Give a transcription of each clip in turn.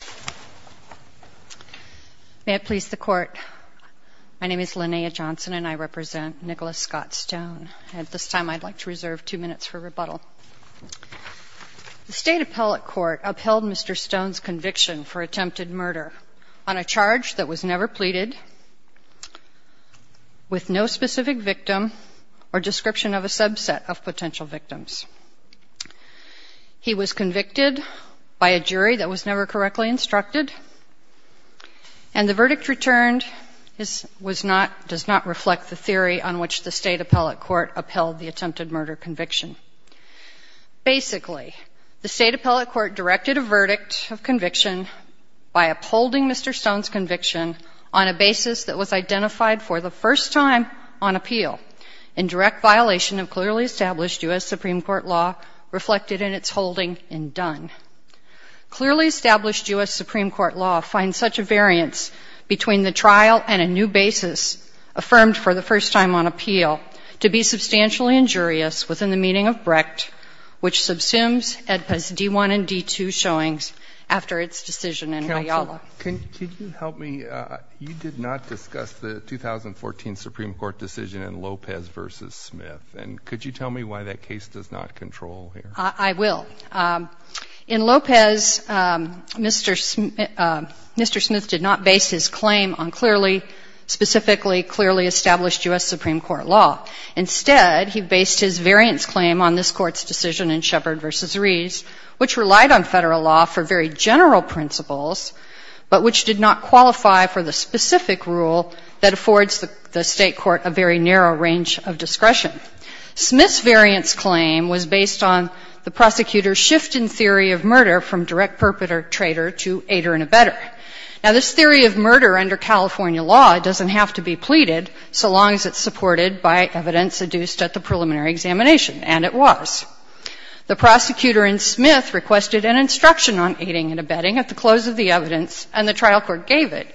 The State Appellate Court upheld Mr. Stone's conviction for attempted murder on a charge that was never pleaded with no specific victim or description of a subset of potential victims. He was convicted by a jury that was never correctly instructed, and the verdict returned was not, does not reflect the theory on which the State Appellate Court upheld the attempted murder conviction. Basically, the State Appellate Court directed a verdict of conviction by upholding Mr. Stone's conviction on a basis that was identified for the first time on appeal in direct violation of clearly established U.S. Supreme Court law reflected in its holding in Dunn. Clearly established U.S. Supreme Court law finds such a variance between the trial and a new basis affirmed for the first time on appeal to be substantially injurious within the meaning of Brecht, which subsumes AEDPA's D-1 and D-2 showings after its decision in Ayala. Can you help me? You did not discuss the 2014 Supreme Court decision in Lopez v. Smith, and could you tell me why that case does not control here? I will. In Lopez, Mr. Smith did not base his claim on clearly, specifically clearly established U.S. Supreme Court law. Instead, he based his variance claim on this Court's decision in Shepard v. Rees, which relied on Federal law for very general principles, but which did not qualify for the specific rule that affords the State court a very narrow range of discretion. Smith's variance claim was based on the prosecutor's shift in theory of murder from direct perpetrator to aider and abetter. Now, this theory of murder under California law doesn't have to be pleaded so long as it's supported by evidence seduced at the preliminary examination, and it was. The prosecutor in Smith requested an instruction on aiding and abetting at the close of the evidence, and the trial court gave it,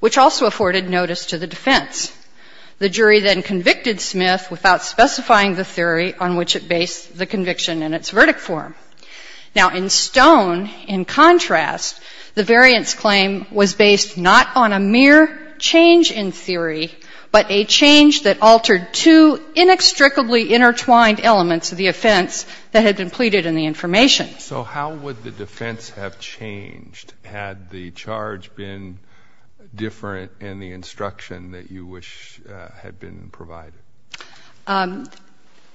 which also afforded notice to the defense. The jury then convicted Smith without specifying the theory on which it based the conviction in its verdict form. Now, in Stone, in contrast, the variance claim was based not on a mere change in theory, but a change that altered two inextricably intertwined elements of the offense that had been pleaded in the information. So how would the defense have changed had the charge been different in the instruction that you wish had been provided?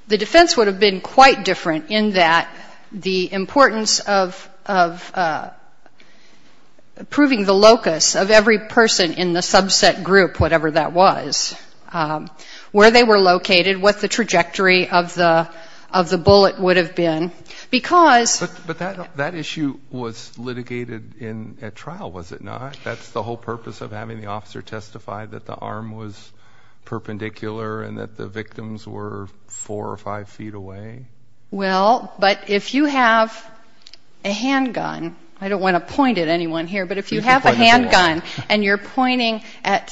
The defense would have been quite different in that the importance of proving the locus of every person in the subset group, whatever that was, where they were located, what the trajectory of the bullet would have been. Because... But that issue was litigated at trial, was it not? That's the whole purpose of having the officer testify, that the arm was perpendicular and that the victims were four or five feet away? Well, but if you have a handgun, I don't want to point at anyone here, but if you have a handgun and you're pointing at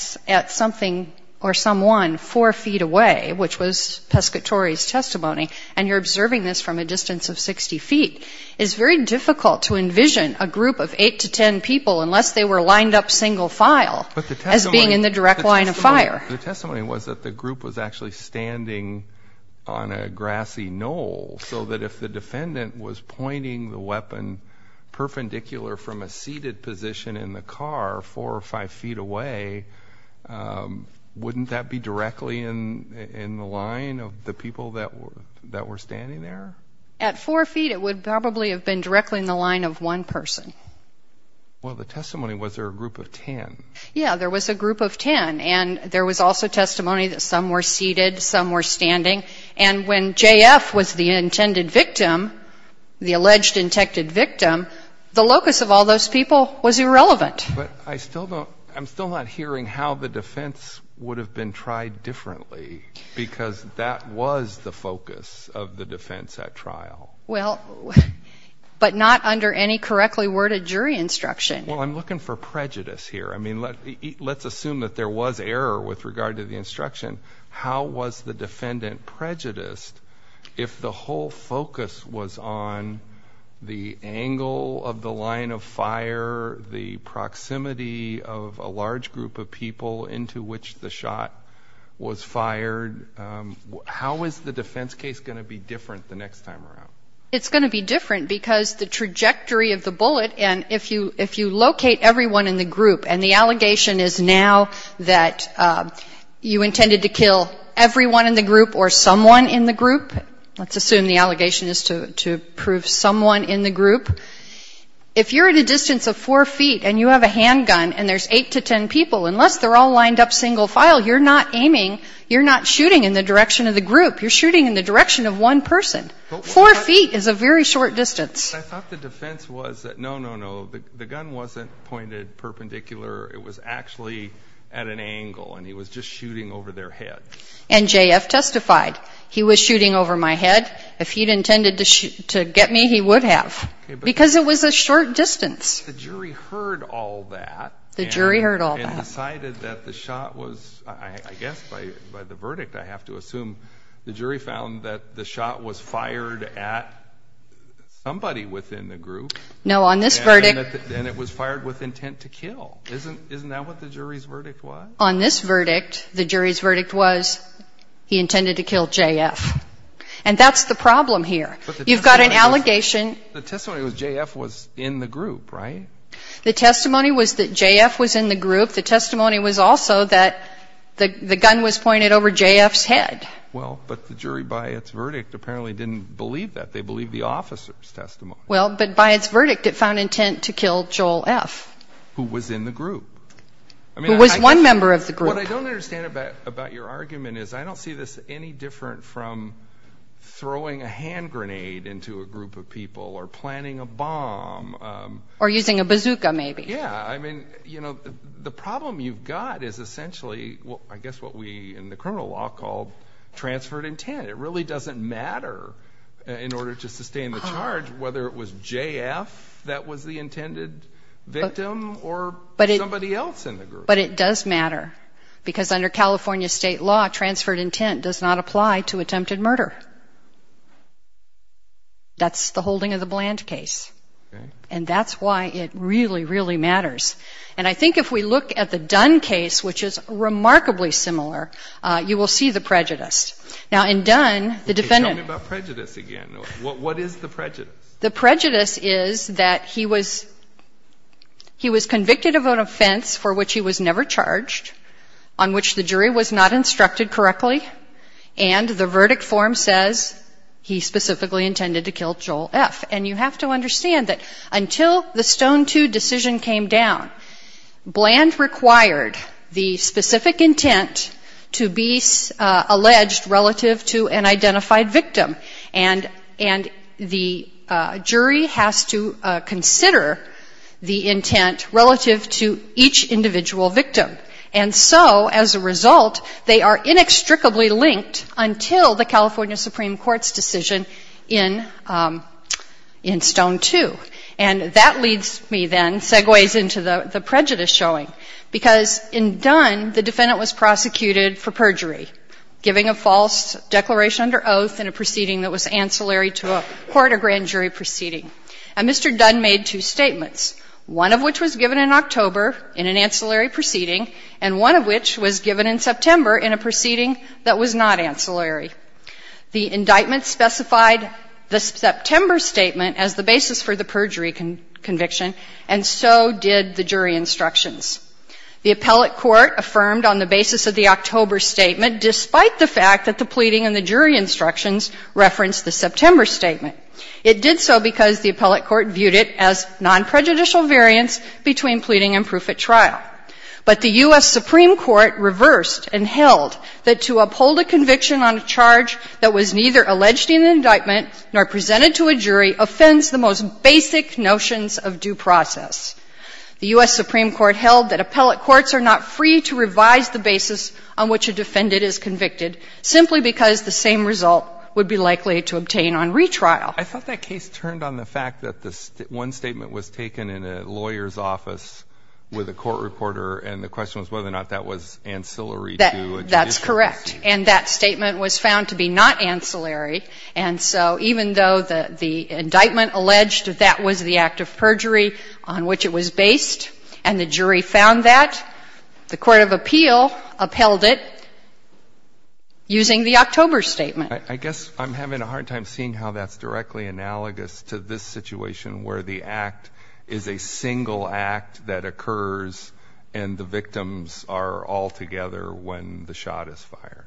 something or someone four feet away, which was Pescatore's testimony, and you're observing this from a distance of 60 feet, it's very difficult to envision a group of eight to ten people unless they were lined up single file as being in the direct line of fire. But the testimony was that the group was actually standing on a grassy knoll, so that if the defendant was pointing the weapon perpendicular from a seated position in the car four or five feet away, wouldn't that be directly in the line of the people that were standing there? At four feet, it would probably have been directly in the line of one person. Well, the testimony, was there a group of ten? Yeah, there was a group of ten. And there was also testimony that some were seated, some were standing. And when J.F. was the intended victim, the alleged intended victim, the locus of all those people was irrelevant. But I'm still not hearing how the defense would have been tried differently, because that was the focus of the defense at trial. Well, but not under any correctly worded jury instruction. Well, I'm looking for prejudice here. I mean, let's assume that there was error with regard to the instruction. How was the defendant prejudiced if the whole focus was on the angle of the line of fire, the proximity of a large group of people into which the shot was fired? How is the defense case going to be different the next time around? It's going to be different because the trajectory of the bullet, and if you locate everyone in the group and the allegation is now that you intended to kill everyone in the group or someone in the group, let's assume the allegation is to prove someone in the group, if you're at a distance of four feet and you have a handgun and there's eight to ten people, unless they're all lined up single file, you're not aiming, you're not shooting in the direction of the group. You're shooting in the direction of one person. Four feet is a very short distance. I thought the defense was that, no, no, no, the gun wasn't pointed perpendicular. It was actually at an angle, and he was just shooting over their head. And J.F. testified, he was shooting over my head. If he'd intended to get me, he would have because it was a short distance. The jury heard all that. The jury heard all that. And decided that the shot was, I guess by the verdict, I have to assume, the jury found that the shot was fired at somebody within the group. No, on this verdict. And it was fired with intent to kill. Isn't that what the jury's verdict was? On this verdict, the jury's verdict was he intended to kill J.F. And that's the problem here. You've got an allegation. But the testimony was J.F. was in the group, right? The testimony was that J.F. was in the group. The testimony was also that the gun was pointed over J.F.'s head. Well, but the jury, by its verdict, apparently didn't believe that. They believed the officer's testimony. Well, but by its verdict, it found intent to kill Joel F. Who was in the group. Who was one member of the group. What I don't understand about your argument is I don't see this any different from throwing a hand grenade into a group of people or planting a bomb. Or using a bazooka, maybe. Yeah. I mean, you know, the problem you've got is essentially, I guess, what we in the criminal law call transferred intent. It really doesn't matter in order to sustain the charge whether it was J.F. that was the intended victim or somebody else in the group. But it does matter because under California state law, transferred intent does not apply to attempted murder. That's the holding of the Bland case. Okay. And that's why it really, really matters. And I think if we look at the Dunn case, which is remarkably similar, you will see the prejudice. Now, in Dunn, the defendant. Tell me about prejudice again. What is the prejudice? The prejudice is that he was convicted of an offense for which he was never charged, on which the jury was not instructed correctly, and the verdict form says he specifically intended to kill Joel F. And you have to understand that until the Stone II decision came down, Bland required the specific intent to be alleged relative to an identified victim. And the jury has to consider the intent relative to each individual victim. And so, as a result, they are inextricably linked until the California Supreme Court's decision in Stone II. And that leads me then, segues into the prejudice showing. Because in Dunn, the defendant was prosecuted for perjury, giving a false declaration under oath in a proceeding that was ancillary to a court or grand jury proceeding. And Mr. Dunn made two statements, one of which was given in October in an ancillary proceeding, and one of which was given in September in a proceeding that was not ancillary. The indictment specified the September statement as the basis for the perjury conviction, and so did the jury instructions. The appellate court affirmed on the basis of the October statement, despite the fact that the pleading and the jury instructions referenced the September statement. It did so because the appellate court viewed it as non-prejudicial variance between pleading and proof at trial. But the U.S. Supreme Court reversed and held that to uphold a conviction on a charge that was neither alleged in an indictment nor presented to a jury offends the most basic notions of due process. The U.S. Supreme Court held that appellate courts are not free to revise the basis on which a defendant is convicted simply because the same result would be likely to obtain on retrial. I thought that case turned on the fact that one statement was taken in a lawyer's recorder and the question was whether or not that was ancillary to a judicial case. That's correct. And that statement was found to be not ancillary. And so even though the indictment alleged that that was the act of perjury on which it was based and the jury found that, the court of appeal upheld it using the October statement. I guess I'm having a hard time seeing how that's directly analogous to this situation where the act is a single act that occurs and the victims are all together when the shot is fired.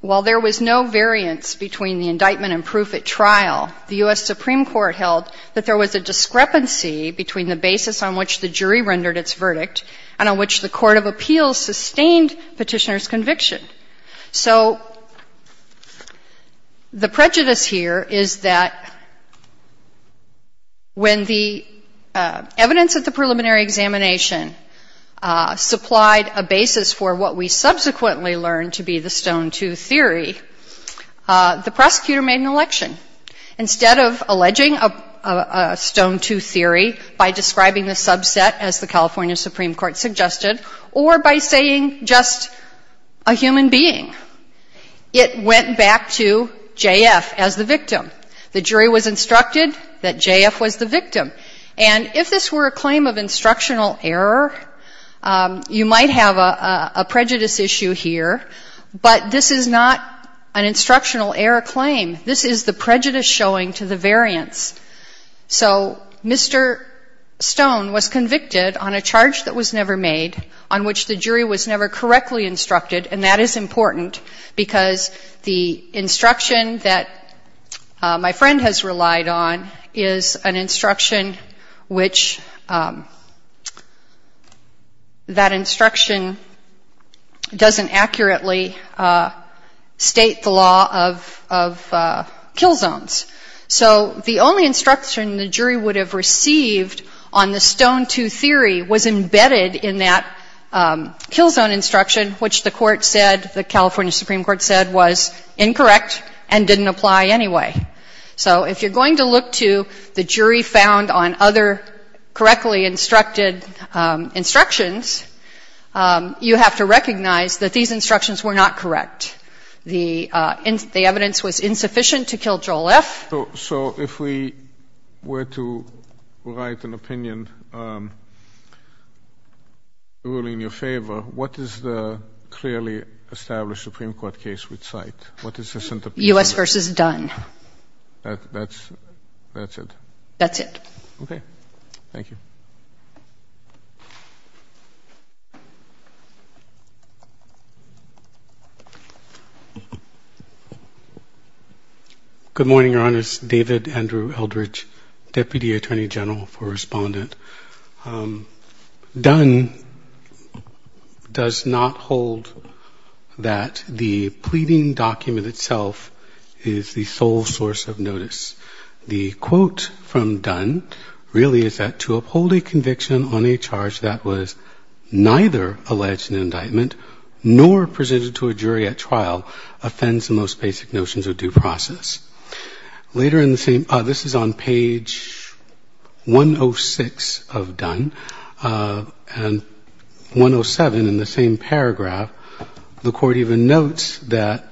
While there was no variance between the indictment and proof at trial, the U.S. Supreme Court held that there was a discrepancy between the basis on which the jury rendered its verdict and on which the court of appeals sustained Petitioner's conviction. So the prejudice here is that when the evidence at the preliminary examination supplied a basis for what we subsequently learned to be the Stone II theory, the prosecutor made an election. Instead of alleging a Stone II theory by describing the subset as the California human being, it went back to J.F. as the victim. The jury was instructed that J.F. was the victim. And if this were a claim of instructional error, you might have a prejudice issue here, but this is not an instructional error claim. This is the prejudice showing to the variance. So Mr. Stone was convicted on a charge that was never made, on which the jury was never correctly instructed, and that is important because the instruction that my friend has relied on is an instruction which that instruction doesn't accurately state the law of kill zones. So the only instruction the jury would have received on the Stone II theory was embedded in that kill zone instruction, which the court said, the California Supreme Court said was incorrect and didn't apply anyway. So if you're going to look to the jury found on other correctly instructed instructions, you have to recognize that these instructions were not correct. The evidence was insufficient to kill Joel F. So if we were to write an opinion ruling in your favor, what is the clearly established Supreme Court case we'd cite? U.S. versus Dunn. That's it. Okay. Thank you. Good morning, Your Honors. David Andrew Eldridge, Deputy Attorney General for Respondent. Dunn does not hold that the pleading document itself is the sole source of notice. The quote from Dunn really is that to uphold a conviction on a charge that was neither alleged in indictment nor presented to a jury at trial offends the most basic notions of due process. Later in the same, this is on page 106 of Dunn, and 107 in the same paragraph, the court even notes that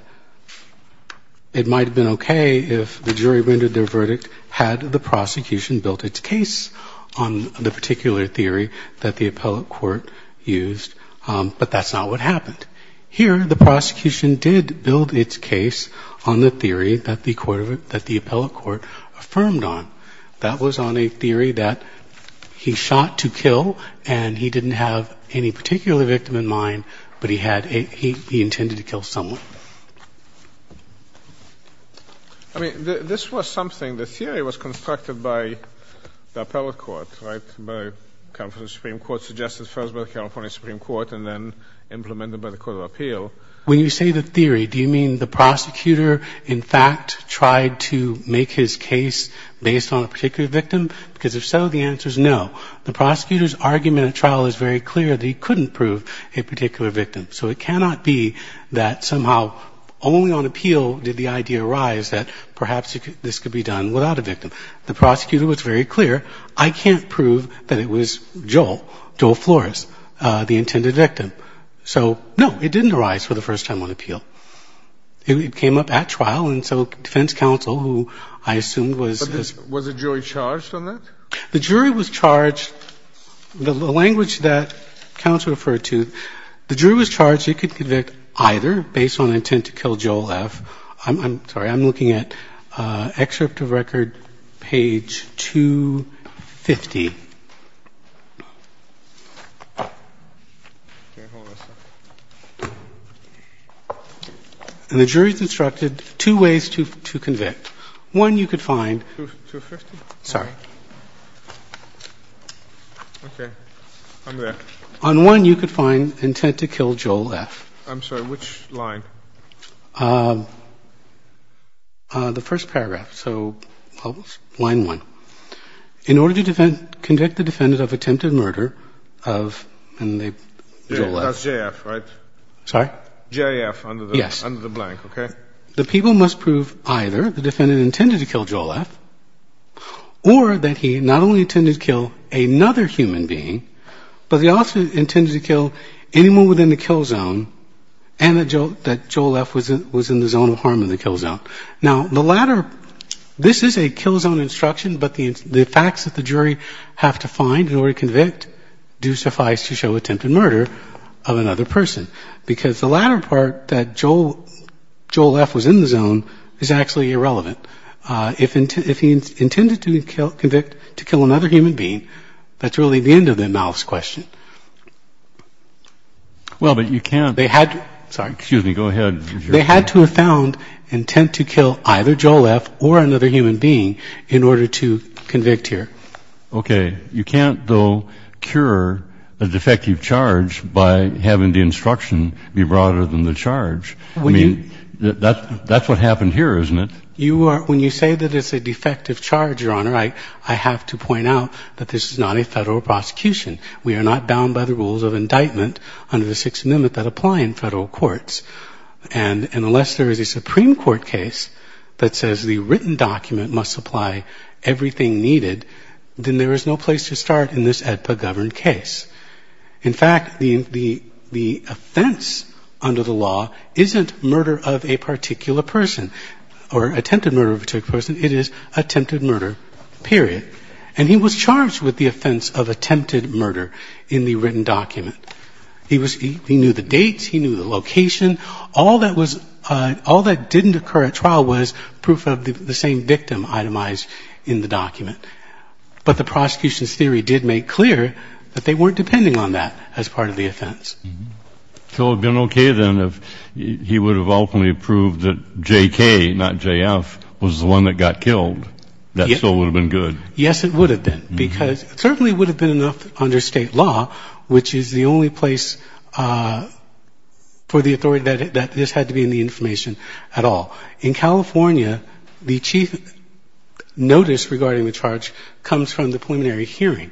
it might have been okay if the jury rendered their verdict had the prosecution built its case on the particular theory that the appellate court used, but that's not what happened. Here the prosecution did build its case on the theory that the appellate court affirmed on. That was on a theory that he shot to kill and he didn't have any particular victim in mind, but he intended to kill someone. I mean, this was something, the theory was constructed by the appellate court, right, by the California Supreme Court, suggested first by the California Supreme Court and then implemented by the court of appeal. When you say the theory, do you mean the prosecutor, in fact, tried to make his case based on a particular victim? Because if so, the answer is no. The prosecutor's argument at trial is very clear that he couldn't prove a particular victim. So it cannot be that somehow only on appeal did the idea arise that perhaps this could be done without a victim. The prosecutor was very clear, I can't prove that it was Joel, Joel Flores, the intended victim. So no, it didn't arise for the first time on appeal. It came up at trial, and so defense counsel, who I assume was as... But was the jury charged on that? The jury was charged, the language that counsel referred to, the jury was charged he could convict either based on intent to kill Joel F. I'm sorry, I'm looking at Excerpt of Record, page 250. Okay, hold on a second. And the jury is instructed two ways to convict. One, you could find... 250? Sorry. Okay. I'm there. On one, you could find intent to kill Joel F. I'm sorry, which line? The first paragraph, so line one. In order to convict the defendant of attempted murder of... That's J.F., right? Sorry? J.F. under the blank, okay? The people must prove either the defendant intended to kill Joel F. or that he not only intended to kill another human being, but he also intended to kill anyone within the kill zone and that Joel F. was in the zone of harm in the kill zone. Now, the latter... This is a kill zone instruction, but the facts that the jury have to find in order to convict do suffice to show attempted murder of another person, because the latter part, that Joel F. was in the zone, is actually irrelevant. If he intended to convict to kill another human being, that's really irrelevant. That's really the end of the mouse question. Well, but you can't... Sorry. Excuse me. Go ahead. They had to have found intent to kill either Joel F. or another human being in order to convict here. Okay. You can't, though, cure a defective charge by having the instruction be broader than the charge. I mean, that's what happened here, isn't it? When you say that it's a defective charge, Your Honor, I have to point out that this is not a federal prosecution. We are not bound by the rules of indictment under the Sixth Amendment that apply in federal courts. And unless there is a Supreme Court case that says the written document must supply everything needed, then there is no place to start in this AEDPA-governed case. In fact, the offense under the law isn't murder of a particular person or a attempted murder of a particular person. It is attempted murder, period. And he was charged with the offense of attempted murder in the written document. He knew the dates. He knew the location. All that didn't occur at trial was proof of the same victim itemized in the document. But the prosecution's theory did make clear that they weren't depending on that as part of the offense. So it would have been okay, then, if he would have ultimately proved that J.K., not J.F., was the one that got killed. That still would have been good. Yes, it would have been, because it certainly would have been enough under State law, which is the only place for the authority that this had to be in the information at all. In California, the chief notice regarding the charge comes from the preliminary hearing,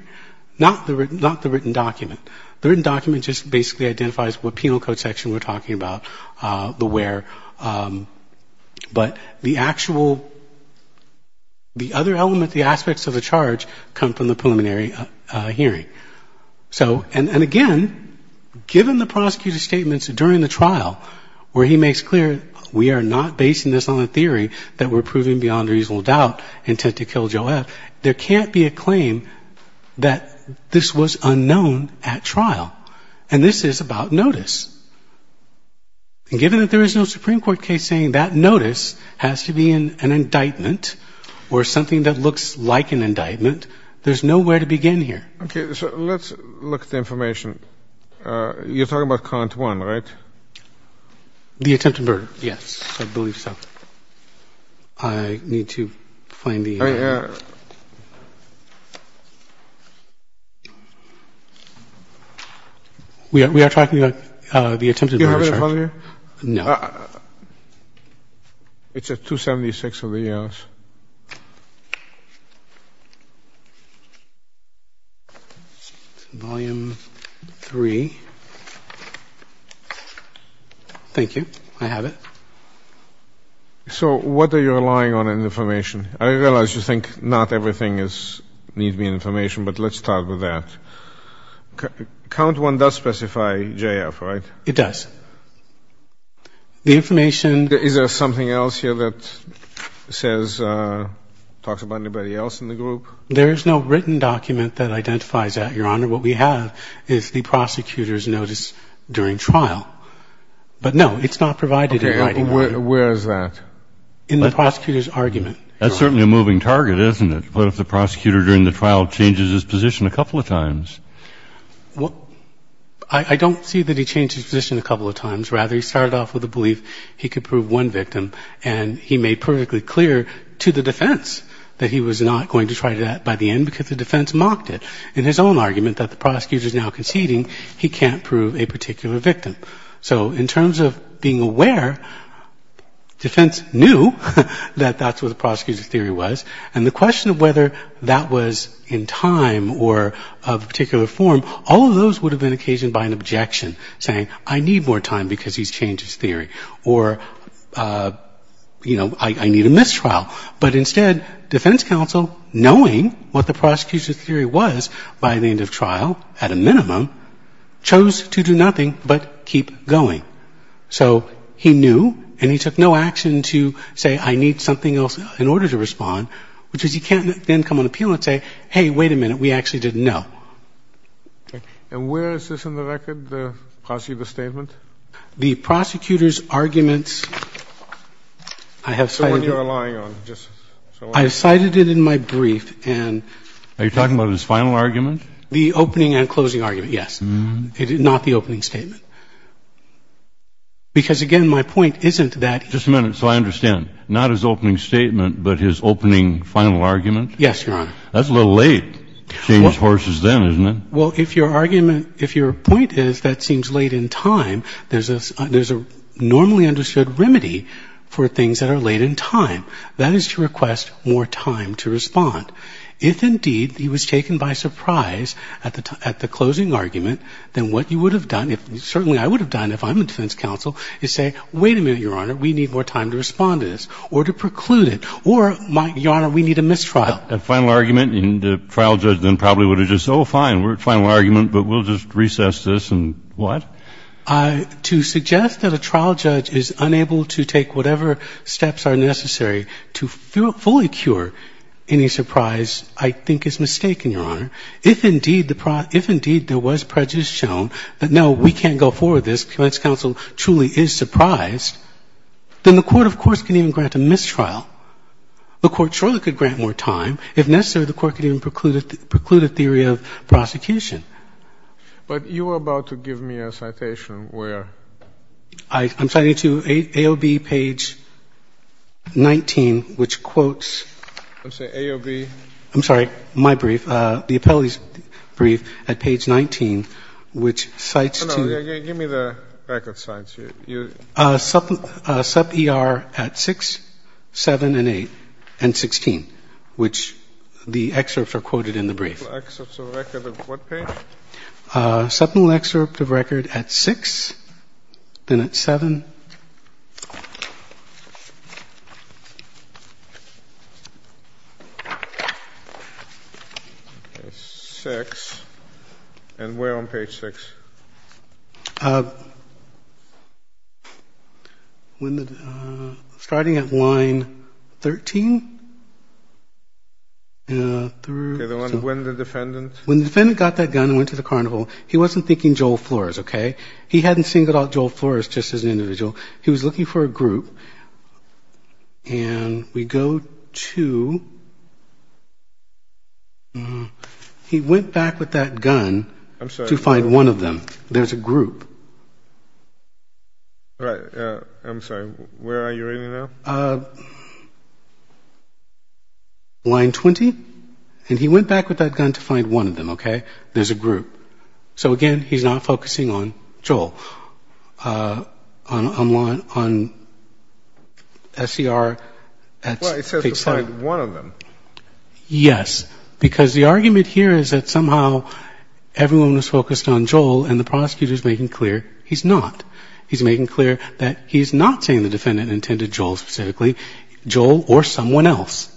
not the written document. The written document just basically identifies what penal code section we're talking about, the where. But the actual, the other element, the aspects of the charge come from the preliminary hearing. So, and again, given the prosecutor's statements during the trial where he makes clear we are not basing this on a theory that we're proving beyond reasonable doubt intent to kill J.F., there can't be a claim that this was unknown at trial. And this is about notice. And given that there is no Supreme Court case saying that notice has to be an indictment or something that looks like an indictment, there's nowhere to begin here. Okay. So let's look at the information. You're talking about count one, right? The attempted murder, yes, I believe so. I need to find the... We are talking about the attempted murder charge. Do you have it on here? No. It's at 276 of the arrows. Volume 3. Thank you. I have it. So what are you relying on in information? I realize you think not everything needs to be in information, but let's start with that. Count one does specify J.F., right? It does. The information... Is there something else here that says, talks about anybody else in the group? There is no written document that identifies that, Your Honor. What we have is the prosecutor's notice during trial. But, no, it's not provided in writing. Okay. Where is that? In the prosecutor's argument. That's certainly a moving target, isn't it, what if the prosecutor during the trial changes his position a couple of times? I don't see that he changed his position a couple of times. Rather, he started off with the belief he could prove one victim, and he made perfectly clear to the defense that he was not going to try that by the end because the defense mocked it. In his own argument that the prosecutor is now conceding he can't prove a particular victim. So in terms of being aware, defense knew that that's what the prosecutor's theory was, and the question of whether that was in time or of a particular form, all of those would have been occasioned by an objection saying, I need more time because he's changed his theory, or, you know, I need a mistrial. But instead, defense counsel, knowing what the prosecutor's theory was by the end of trial, at a minimum, chose to do nothing but keep going. So he knew, and he took no action to say, I need something else in order to respond, which is he can't then come on appeal and say, hey, wait a minute, we actually didn't know. And where is this in the record, the prosecutor's statement? The prosecutor's argument, I have cited it in my brief and. Are you talking about his final argument? The opening and closing argument, yes. Not the opening statement. Because, again, my point isn't that. Just a minute. So I understand. Not his opening statement, but his opening final argument? Yes, Your Honor. That's a little late to change horses then, isn't it? Well, if your argument, if your point is that seems late in time, there's a normally understood remedy for things that are late in time. That is to request more time to respond. If, indeed, he was taken by surprise at the closing argument, then what you would have done, certainly I would have done if I'm a defense counsel, is say, wait a minute, Your Honor, we need more time to respond to this, or to preclude it, or, Your Honor, we need a mistrial. A final argument, and the trial judge then probably would have just said, oh, fine, we're at final argument, but we'll just recess this, and what? To suggest that a trial judge is unable to take whatever steps are necessary to fully cure any surprise I think is mistaken, Your Honor. If, indeed, there was prejudice shown that, no, we can't go forward with this, defense counsel truly is surprised, then the Court, of course, can even grant a mistrial. The Court surely could grant more time. If necessary, the Court could even preclude a theory of prosecution. But you were about to give me a citation where? I'm citing to AOB page 19, which quotes. I'm sorry, AOB? I'm sorry, my brief, the appellee's brief at page 19, which cites to. No, no, give me the record cites. Sub-ER at 6, 7, and 8, and 16, which the excerpts are quoted in the brief. Excerpts of record of what page? Submental excerpt of record at 6, then at 7. 6, and where on page 6? When the, starting at line 13, through. Okay, the one when the defendant. When the defendant got that gun and went to the carnival, he wasn't thinking Joel Flores, okay? He hadn't seen Joel Flores just as an individual. He was looking for a group. I'm sorry. To find one of them. There's a group. I'm sorry. Where are you reading now? Line 20. And he went back with that gun to find one of them, okay? There's a group. So, again, he's not focusing on Joel. On SCR at page 7. Well, it says to find one of them. Yes, because the argument here is that somehow everyone was focused on Joel, and the prosecutor is making clear he's not. He's making clear that he's not saying the defendant intended Joel specifically, Joel or someone else.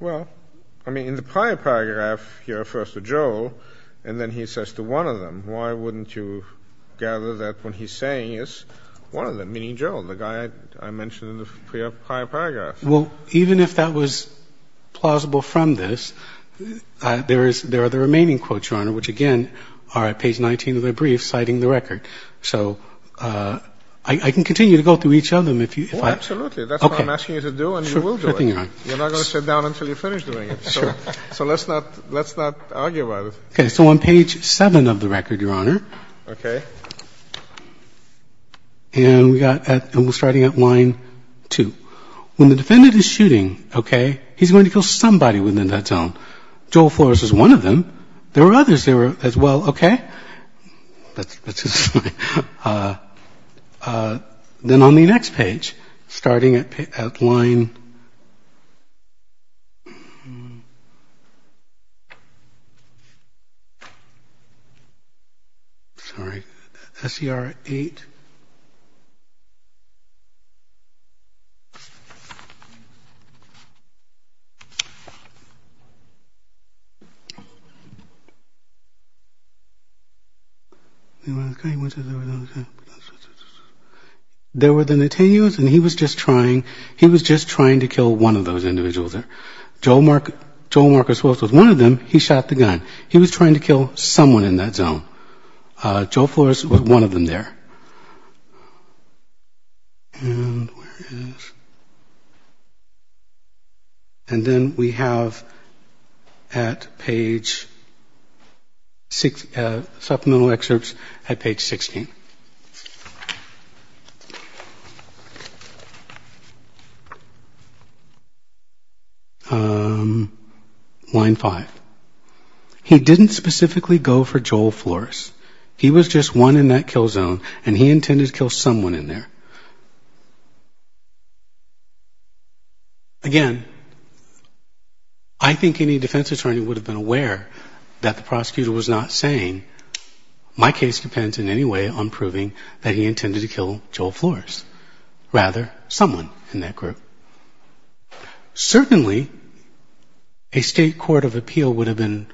Well, I mean, in the prior paragraph, he refers to Joel, and then he says to one of them. Why wouldn't you gather that what he's saying is one of them, meaning Joel, the guy I mentioned in the prior paragraph? Well, even if that was plausible from this, there are the remaining quotes, Your Honor, which, again, are at page 19 of the brief citing the record. So I can continue to go through each of them if you'd like. Oh, absolutely. That's what I'm asking you to do, and you will do it. Sure thing, Your Honor. You're not going to sit down until you finish doing it. Sure. So let's not argue about it. Okay. So on page 7 of the record, Your Honor. Okay. And we're starting at line 2. When the defendant is shooting, okay, he's going to kill somebody within that zone. Joel Flores is one of them. There are others there as well. Okay. Then on the next page, starting at line. Sorry. SCR 8. Okay. There were the Netanyahus, and he was just trying to kill one of those individuals there. Joel Marcus was one of them. He shot the gun. He was trying to kill someone in that zone. Joel Flores was one of them there. And where is... And then we have at page 6, supplemental excerpts at page 16. Line 5. He didn't specifically go for Joel Flores. He was just one in that kill zone, and he intended to kill someone in there. Again, I think any defense attorney would have been aware that the prosecutor was not saying, my case depends in any way on proving that he intended to kill Joel Flores. Rather, someone in that group. Certainly, a state court of appeal would have been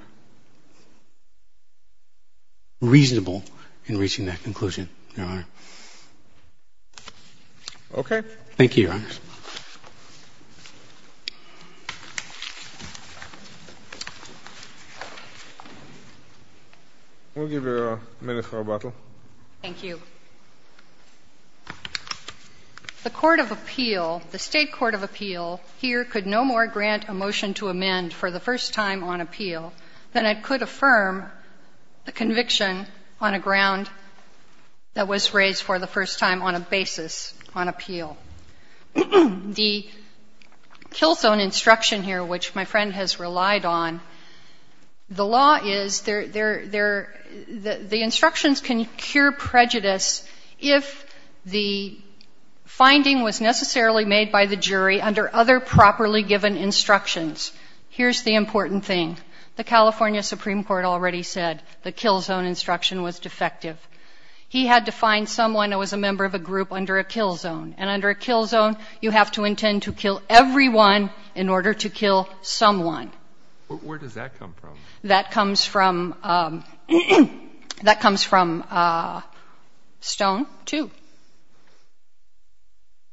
reasonable in reaching that conclusion, Your Honor. Okay. Thank you, Your Honor. We'll give you a minute for rebuttal. Thank you. The court of appeal, the state court of appeal here could no more grant a motion to amend for the first time on appeal than it could affirm a conviction on a ground that was raised for the first time on a basis on appeal. The kill zone instruction here, which my friend has relied on, the law is the instructions can cure prejudice if the finding was necessarily made by the jury under other properly given instructions. Here's the important thing. The California Supreme Court already said the kill zone instruction was defective. He had to find someone who was a member of a group under a kill zone, and under a kill zone you have to intend to kill everyone in order to kill someone. Where does that come from? That comes from Stone 2.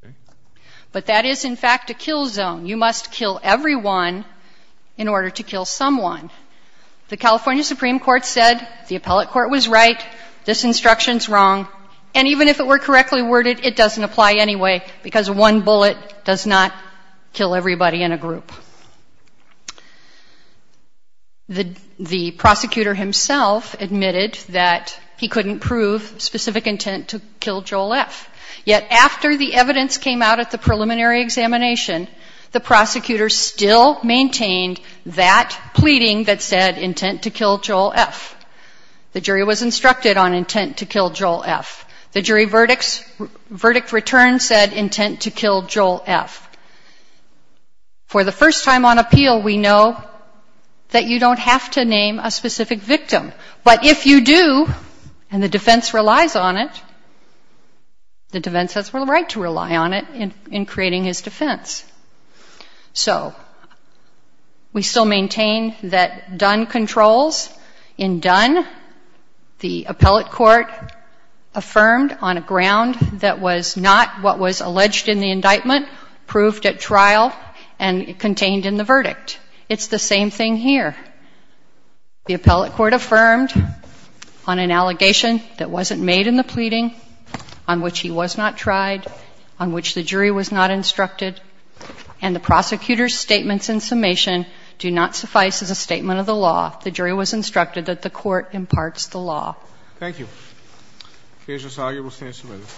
Okay. But that is, in fact, a kill zone. You must kill everyone in order to kill someone. The California Supreme Court said the appellate court was right, this instruction is wrong, and even if it were correctly worded it doesn't apply anyway because one bullet does not kill everybody in a group. The prosecutor himself admitted that he couldn't prove specific intent to kill Joel F. Yet after the evidence came out at the preliminary examination, the prosecutor still maintained that pleading that said intent to kill Joel F. The jury was instructed on intent to kill Joel F. The jury verdict return said intent to kill Joel F. For the first time on appeal we know that you don't have to name a specific victim, but if you do and the defense relies on it, the defense has the right to rely on it in creating his defense. So we still maintain that Dunn controls. In Dunn the appellate court affirmed on a ground that was not what was alleged in the indictment, proved at trial, and contained in the verdict. It's the same thing here. The appellate court affirmed on an allegation that wasn't made in the pleading, on which he was not tried, on which the jury was not instructed, and the prosecutor's statements in summation do not suffice as a statement of the law. The jury was instructed that the court imparts the law. Thank you. The case is argued. We'll stand some minutes.